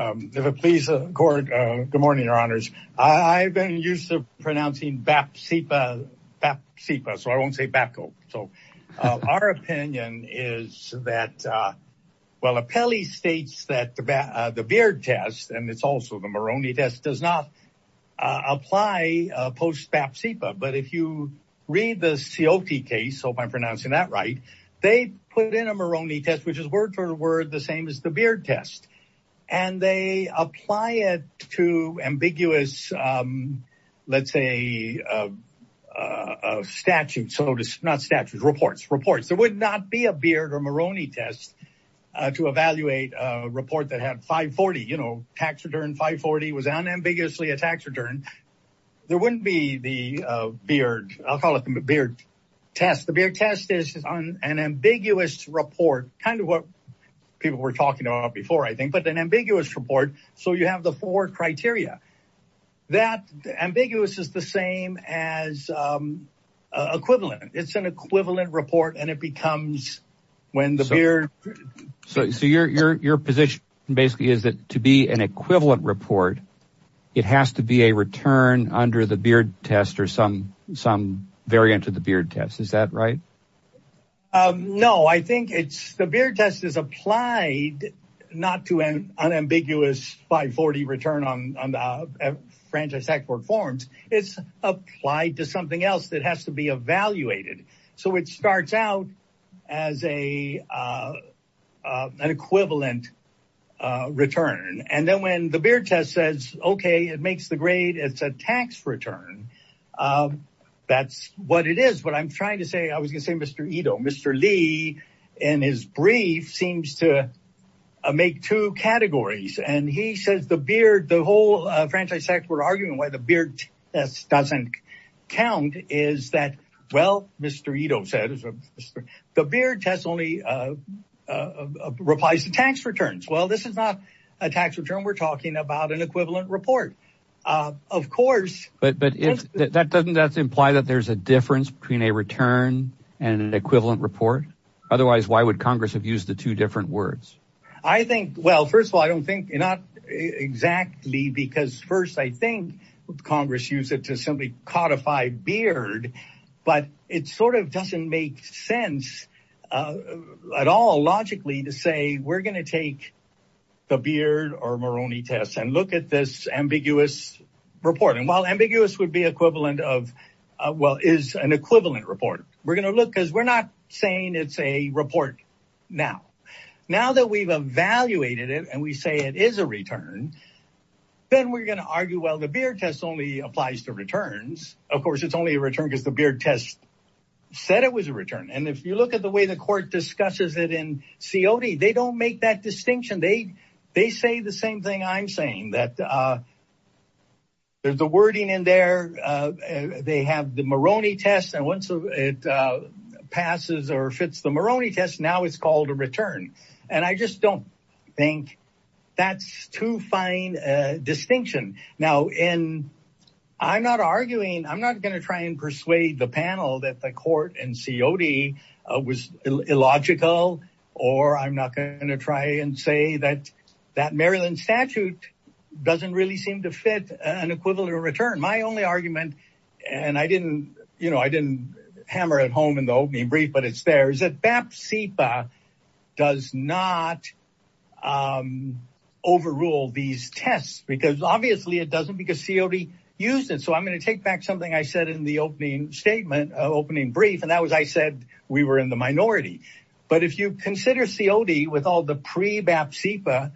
If it pleases the court, good morning, your honors. I've been used to pronouncing BAP-SIPA, BAP-SIPA, so I won't say BAP-CO. So our opinion is that, well, Apelli states that the BEARD test, and it's also the Moroni test, does not apply post-BAP-SIPA. But if you read the C.O.T. case, so if I'm pronouncing that right, they put in a Moroni test, which is word for word the same as the BEARD test. And they apply it to ambiguous, let's say, statutes, not statutes, reports, reports. There would not be a BEARD or Moroni test to evaluate a report that had 540, you know, tax return 540 was unambiguously a tax return. There wouldn't be the BEARD, I'll call it the test. The BEARD test is an ambiguous report, kind of what people were talking about before, I think, but an ambiguous report. So you have the four criteria. That ambiguous is the same as equivalent. It's an equivalent report, and it becomes when the BEARD. So your position basically is that to be an equivalent report, it has to be a return under the BEARD test or some variant of the BEARD test. Is that right? No, I think it's the BEARD test is applied not to an unambiguous 540 return on the Franchise Tax Court forms. It's applied to something else that has to be evaluated. So it starts out as an equivalent return. And then when the BEARD test says, okay, it makes the grade, it's a tax return. That's what it is. What I'm trying to say, I was gonna say, Mr. Ito, Mr. Lee, in his brief seems to make two categories. And he says the BEARD, the whole Franchise Tax Court argument why the BEARD test doesn't count is that, well, Mr. Ito said, the BEARD test only replies to tax returns. Well, this is not a tax return. We're talking about an equivalent report, of course. But that doesn't imply that there's a difference between a return and an equivalent report. Otherwise, why would Congress have used the two different words? I think, well, first of all, I don't think not exactly because first, I think Congress used it to simply codify BEARD, but it sort of doesn't make sense at all logically to say we're gonna take the BEARD or Moroni test and look at this ambiguous report. And while ambiguous would be equivalent of, well, is an equivalent report. We're gonna look, because we're not saying it's a report now. Now that we've evaluated it and we say it is a return, then we're gonna argue, well, the BEARD test only applies to returns. Of course, it's only a return because the BEARD test said it was a return. And if you look at the way the court discusses it in COD, they don't make that distinction. They say the same thing I'm saying, that there's a wording in there. They have the Moroni test. And once it passes or fits the Moroni test, now it's called a return. And I just don't think that's too fine a distinction. Now, I'm not arguing, I'm not gonna try and persuade the panel that the court in COD was illogical, or I'm not gonna try and say that that Maryland statute doesn't really seem to fit an equivalent return. My only argument, and I didn't hammer it home in the opening brief, but it's there, is that BAP-CIPA does not overrule these tests because obviously it doesn't because COD used it. So I'm gonna take back something I said in the opening statement, opening brief, and that was, I said we were in the minority. But if you consider COD with all the pre-BAP-CIPA,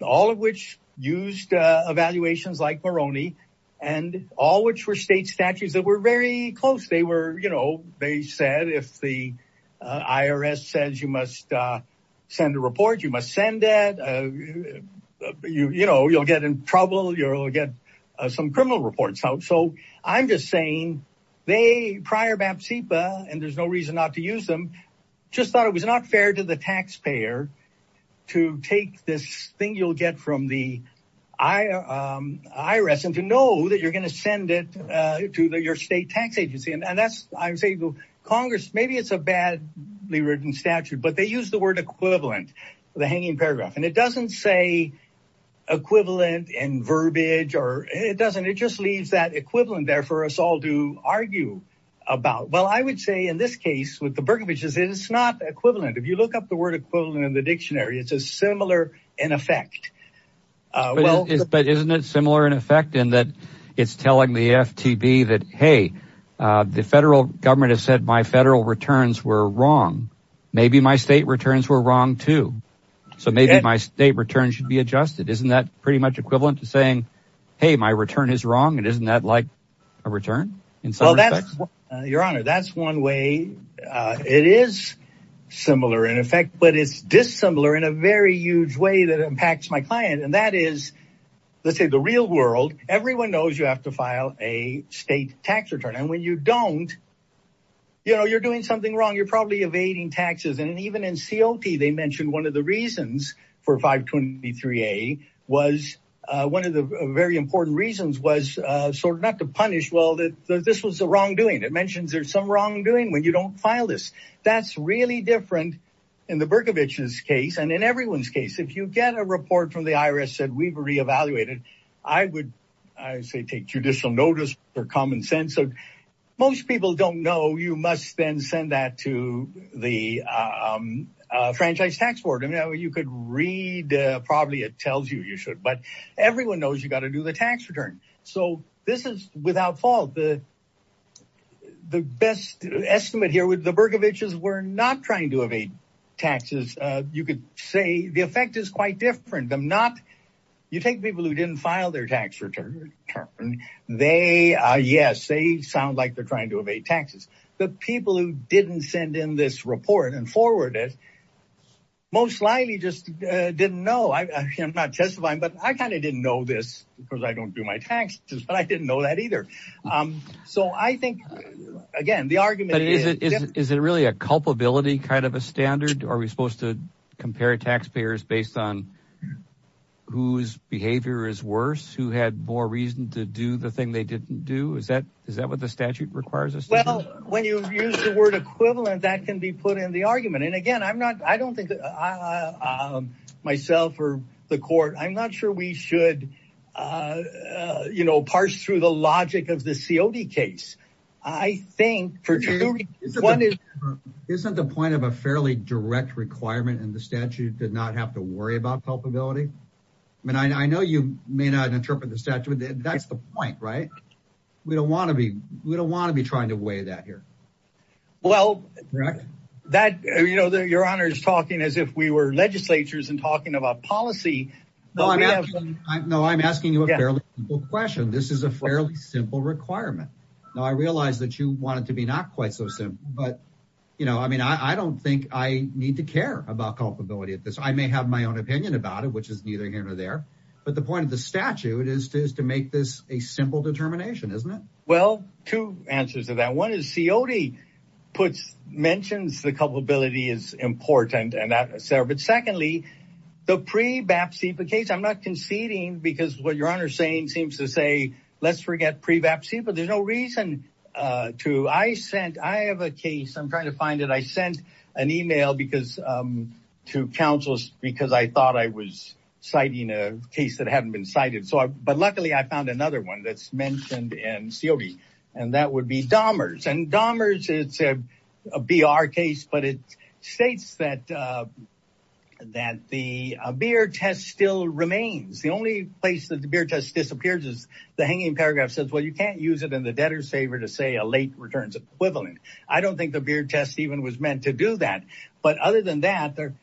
all of which used evaluations like Moroni, and all which were state statutes that were very close, they were, you know, they said if the IRS says you must send a report, you must send it. You know, you'll get in trouble, you'll get some criminal reports out. So I'm just saying, they, prior BAP-CIPA, and there's no reason not to use them, just thought it was not fair to the taxpayer to take this thing you'll get from the IRS and to know that you're going to send it to your state tax agency. And that's, I would say, Congress, maybe it's a badly written statute, but they use the word equivalent, the hanging paragraph, and it doesn't say equivalent in about, well, I would say in this case with the Berkovichs, it's not equivalent. If you look up the word equivalent in the dictionary, it's a similar in effect. But isn't it similar in effect in that it's telling the FTB that, hey, the federal government has said my federal returns were wrong. Maybe my state returns were wrong too. So maybe my state returns should be adjusted. Isn't that pretty much equivalent to saying, hey, my return is wrong, and isn't that like a return in some respects? Your Honor, that's one way. It is similar in effect, but it's dissimilar in a very huge way that impacts my client. And that is, let's say the real world, everyone knows you have to file a state tax return. And when you don't, you're doing something wrong. You're probably evading taxes. And even in COT, they mentioned one of the reasons for 523A was, one of the very important reasons was sort of not to punish, well, that this was a wrongdoing. It mentions there's some wrongdoing when you don't file this. That's really different in the Berkovichs' case and in everyone's case. If you get a report from the IRS said we've re-evaluated, I would, I say, take judicial notice for common sense. Most people don't know you must then send that to the Franchise Tax Board. I mean, you could read, probably it tells you you should, but everyone knows you've got to do the tax return. So this is without fault. The best estimate here with the Berkovichs, we're not trying to evade taxes. You could say the effect is quite different. I'm not, you take people who didn't file their tax return, they, yes, sound like they're trying to evade taxes. The people who didn't send in this report and forward it, most likely just didn't know. I'm not testifying, but I kind of didn't know this because I don't do my taxes, but I didn't know that either. So I think, again, the argument- But is it really a culpability kind of a standard? Are we supposed to compare taxpayers based on whose behavior is worse, who had more reason to do the thing they didn't do? Is that what the statute requires us to do? Well, when you use the word equivalent, that can be put in the argument. And again, I'm not, I don't think, myself or the court, I'm not sure we should, you know, parse through the logic of the COD case. I think, for two reasons, one is- Isn't the point of a fairly direct requirement in the statute to not have to worry about culpability? I mean, I know you may not interpret the statute. That's the point, right? We don't want to be trying to weigh that here. Well, that, you know, your honor is talking as if we were legislatures and talking about policy. No, I'm asking you a fairly simple question. This is a fairly simple requirement. Now, I realize that you want it to be not quite so simple, but, you know, I mean, I don't think I need to care about culpability at this. I may have my own opinion about it, which is neither here nor there, but the point of the statute is to make this a simple determination, isn't it? Well, two answers to that. One is COD puts, mentions the culpability is important and that served. But secondly, the pre-BAPCIPA case, I'm not conceding because what your honor saying seems to say, let's forget pre-BAPCIPA. There's no reason to, I sent, I have a case, I'm trying to find it. I sent an email because to councils, because I thought I was citing a case that hadn't been cited. So, but luckily I found another one that's mentioned in COD and that would be Dahmer's and Dahmer's it's a BR case, but it states that, that the beer test still remains. The only place that the beer test disappears is the hanging paragraph says, well, you can't use it in the even was meant to do that. But other than that, there,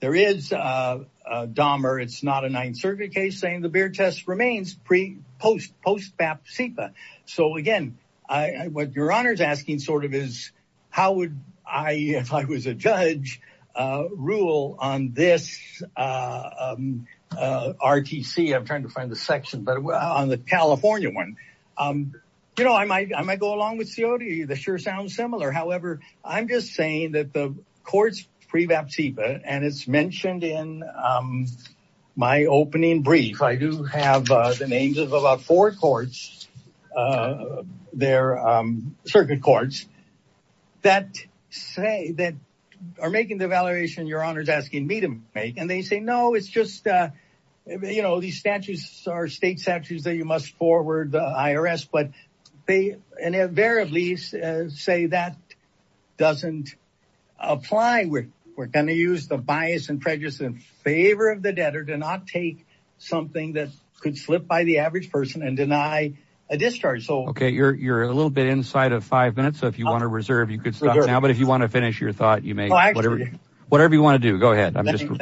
there is a Dahmer. It's not a ninth circuit case saying the beer test remains pre post post-BAPCIPA. So again, I, what your honor's asking sort of is how would I, if I was a judge rule on this RTC, I'm trying to find the section, but on the California one, you know, I might, I might go along with COD that sure sounds similar. However, I'm just saying that the courts pre-BAPCIPA and it's mentioned in my opening brief, I do have the names of about four courts, their circuit courts that say that are making the evaluation your honor's asking me to make. And they say, no, it's just, you know, these statutes are state statutes that you must forward the IRS, but they invariably say that doesn't apply. We're, we're going to use the bias and prejudice in favor of the debtor to not take something that could slip by the average person and deny a discharge. So, okay. You're, you're a little bit inside of five minutes. So if you want to reserve, you could stop now, but if you want to finish your thought, you may, whatever, whatever you want to do, go ahead. I'm just, you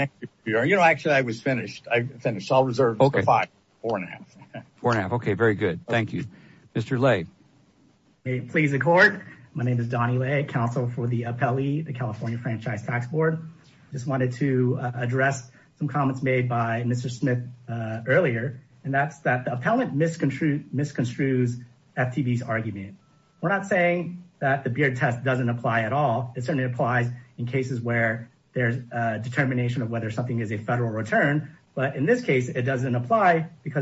know, actually I was finished. I finished all four and a half. Four and a half. Okay. Very good. Thank you, Mr. Lay. May it please the court. My name is Donnie Lay, counsel for the appellee, the California Franchise Tax Board. Just wanted to address some comments made by Mr. Smith earlier, and that's that the appellant misconstrue, misconstrues FTB's argument. We're not saying that the beard test doesn't apply at all. It certainly applies in cases where there's a because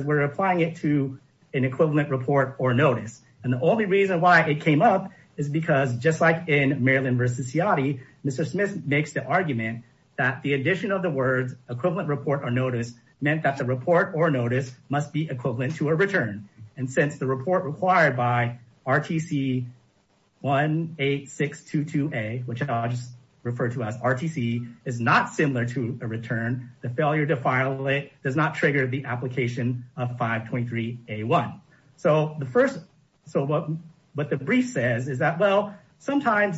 we're applying it to an equivalent report or notice. And the only reason why it came up is because just like in Maryland versus Seati, Mr. Smith makes the argument that the addition of the words equivalent report or notice meant that the report or notice must be equivalent to a return. And since the report required by RTC 18622A, which I'll just refer to as RTC is not similar to a return, the failure to file it does not trigger the application of 523A1. So the first, so what the brief says is that, well, sometimes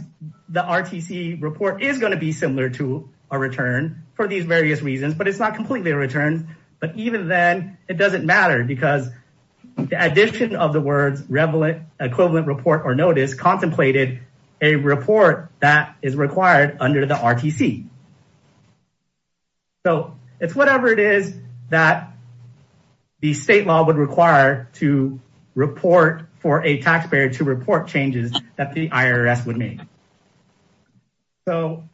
the RTC report is going to be similar to a return for these various reasons, but it's not completely a return. But even then it doesn't matter because the addition of the words equivalent report or notice contemplated a report that is required under the RTC. So it's whatever it is that the state law would require to report for a taxpayer to report changes that the IRS would make. So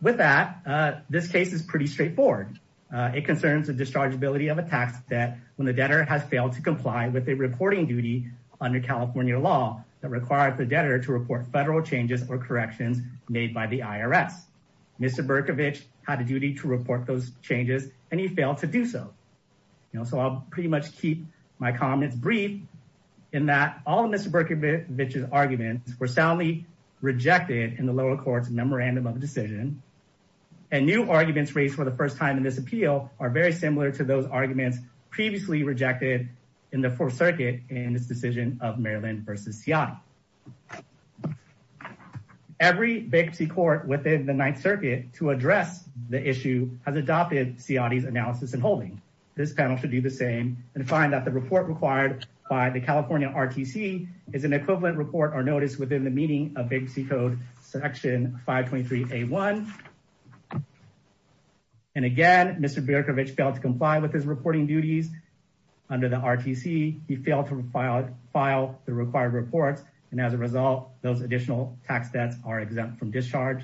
with that, this case is pretty straightforward. It concerns the dischargeability of a tax debt when the debtor has failed to comply with a reporting duty under California law that required the debtor to report federal changes or corrections made by the IRS. Mr. Berkovich had a duty to report those changes and he failed to do so. So I'll pretty much keep my comments brief in that all of Mr. Berkovich's arguments were soundly rejected in the lower court's memorandum of decision and new arguments raised for the first time in this appeal are very similar to those arguments previously rejected in the fourth circuit in this decision of Maryland versus Seattle. Every bankruptcy court within the ninth circuit to address the issue has adopted Seattle's analysis and holding. This panel should do the same and find that the report required by the California RTC is an equivalent report or notice within the meaning of bankruptcy code section 523 A1. And again, Mr. Berkovich failed to comply with his reporting duties under the RTC. He failed to file the required reports and as a result, those additional tax debts are exempt from discharge.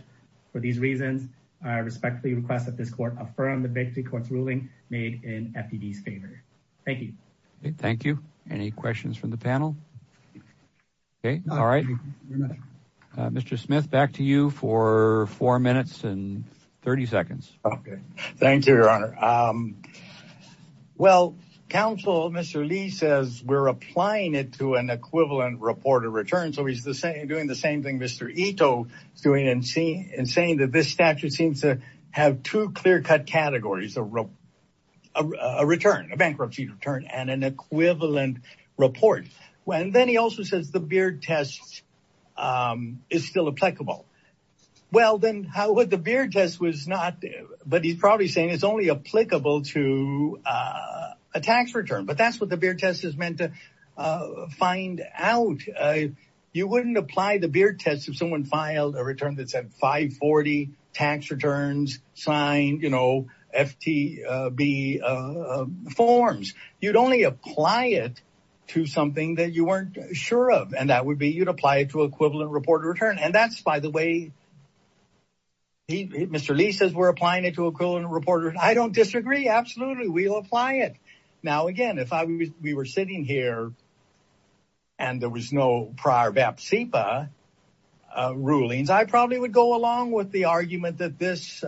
For these reasons, I respectfully request that this court affirm the bankruptcy court's ruling made in FED's favor. Thank you. Thank you. Any questions from the panel? Okay, all right. Mr. Smith, back to you for four minutes and counsel. Mr. Lee says we're applying it to an equivalent report of return. So he's the same doing the same thing Mr. Ito is doing and saying that this statute seems to have two clear cut categories, a return, a bankruptcy return and an equivalent report. And then he also says the Beard test is still applicable. Well, then how would the Beard test was not, but he's probably saying it's only applicable to a tax return, but that's what the Beard test is meant to find out. You wouldn't apply the Beard test if someone filed a return that said 540 tax returns signed, you know, FTB forms, you'd only apply it to something that you weren't sure of. And that would be, you'd apply it to equivalent report return. And that's by the way, Mr. Lee says we're applying it to equivalent reporter. I don't disagree. Absolutely. We'll apply it. Now, again, if we were sitting here and there was no prior BAP CEPA rulings, I probably would go along with the argument that this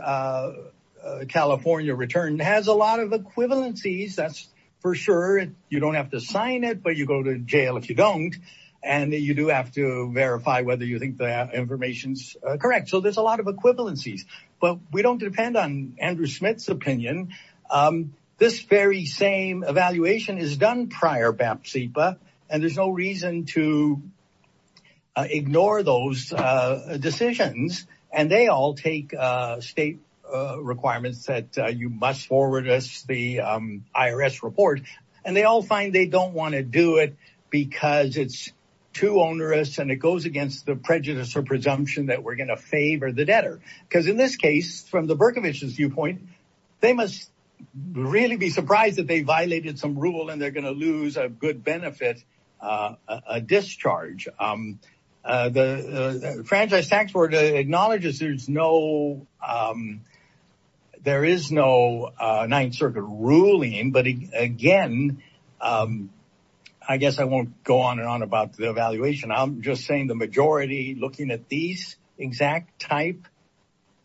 California return has a lot of equivalencies. That's for sure. You don't have to sign it, but you go to jail if you don't. And you do have to But we don't depend on Andrew Smith's opinion. This very same evaluation is done prior BAP CEPA, and there's no reason to ignore those decisions. And they all take state requirements that you must forward us the IRS report. And they all find they don't want to do it because it's too onerous and it goes against the prejudice or presumption that we're going to favor the debtor. Because in this case, from the Berkovich's viewpoint, they must really be surprised that they violated some rule and they're going to lose a good benefit, a discharge. The Franchise Tax Board acknowledges there is no Ninth Circuit ruling. But again, I guess I won't go on and on about the evaluation. I'm just saying the majority looking at these exact type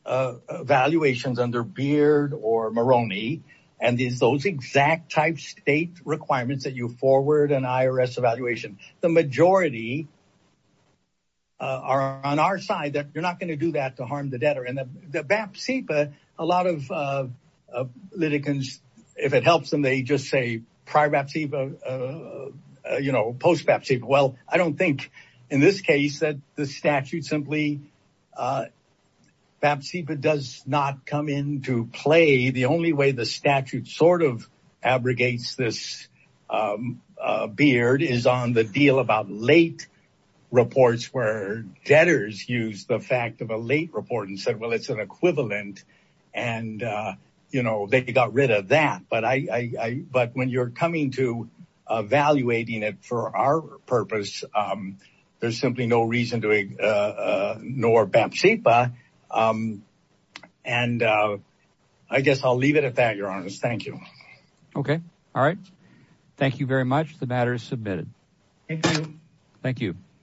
evaluations under Beard or Maroney, and these exact type state requirements that you forward an IRS evaluation, the majority are on our side that you're not going to do that to harm the debtor. And the BAP CEPA, a lot of litigants, if it helps them, just say prior BAP CEPA, post BAP CEPA. Well, I don't think in this case that the statute simply BAP CEPA does not come into play. The only way the statute sort of abrogates this Beard is on the deal about late reports where debtors use the fact of a late report and said, it's an equivalent. And they got rid of that. But when you're coming to evaluating it for our purpose, there's simply no reason to ignore BAP CEPA. And I guess I'll leave it at that, Your Honor. Thank you. Okay. All right. Thank you very much. The matter is submitted. Thank you.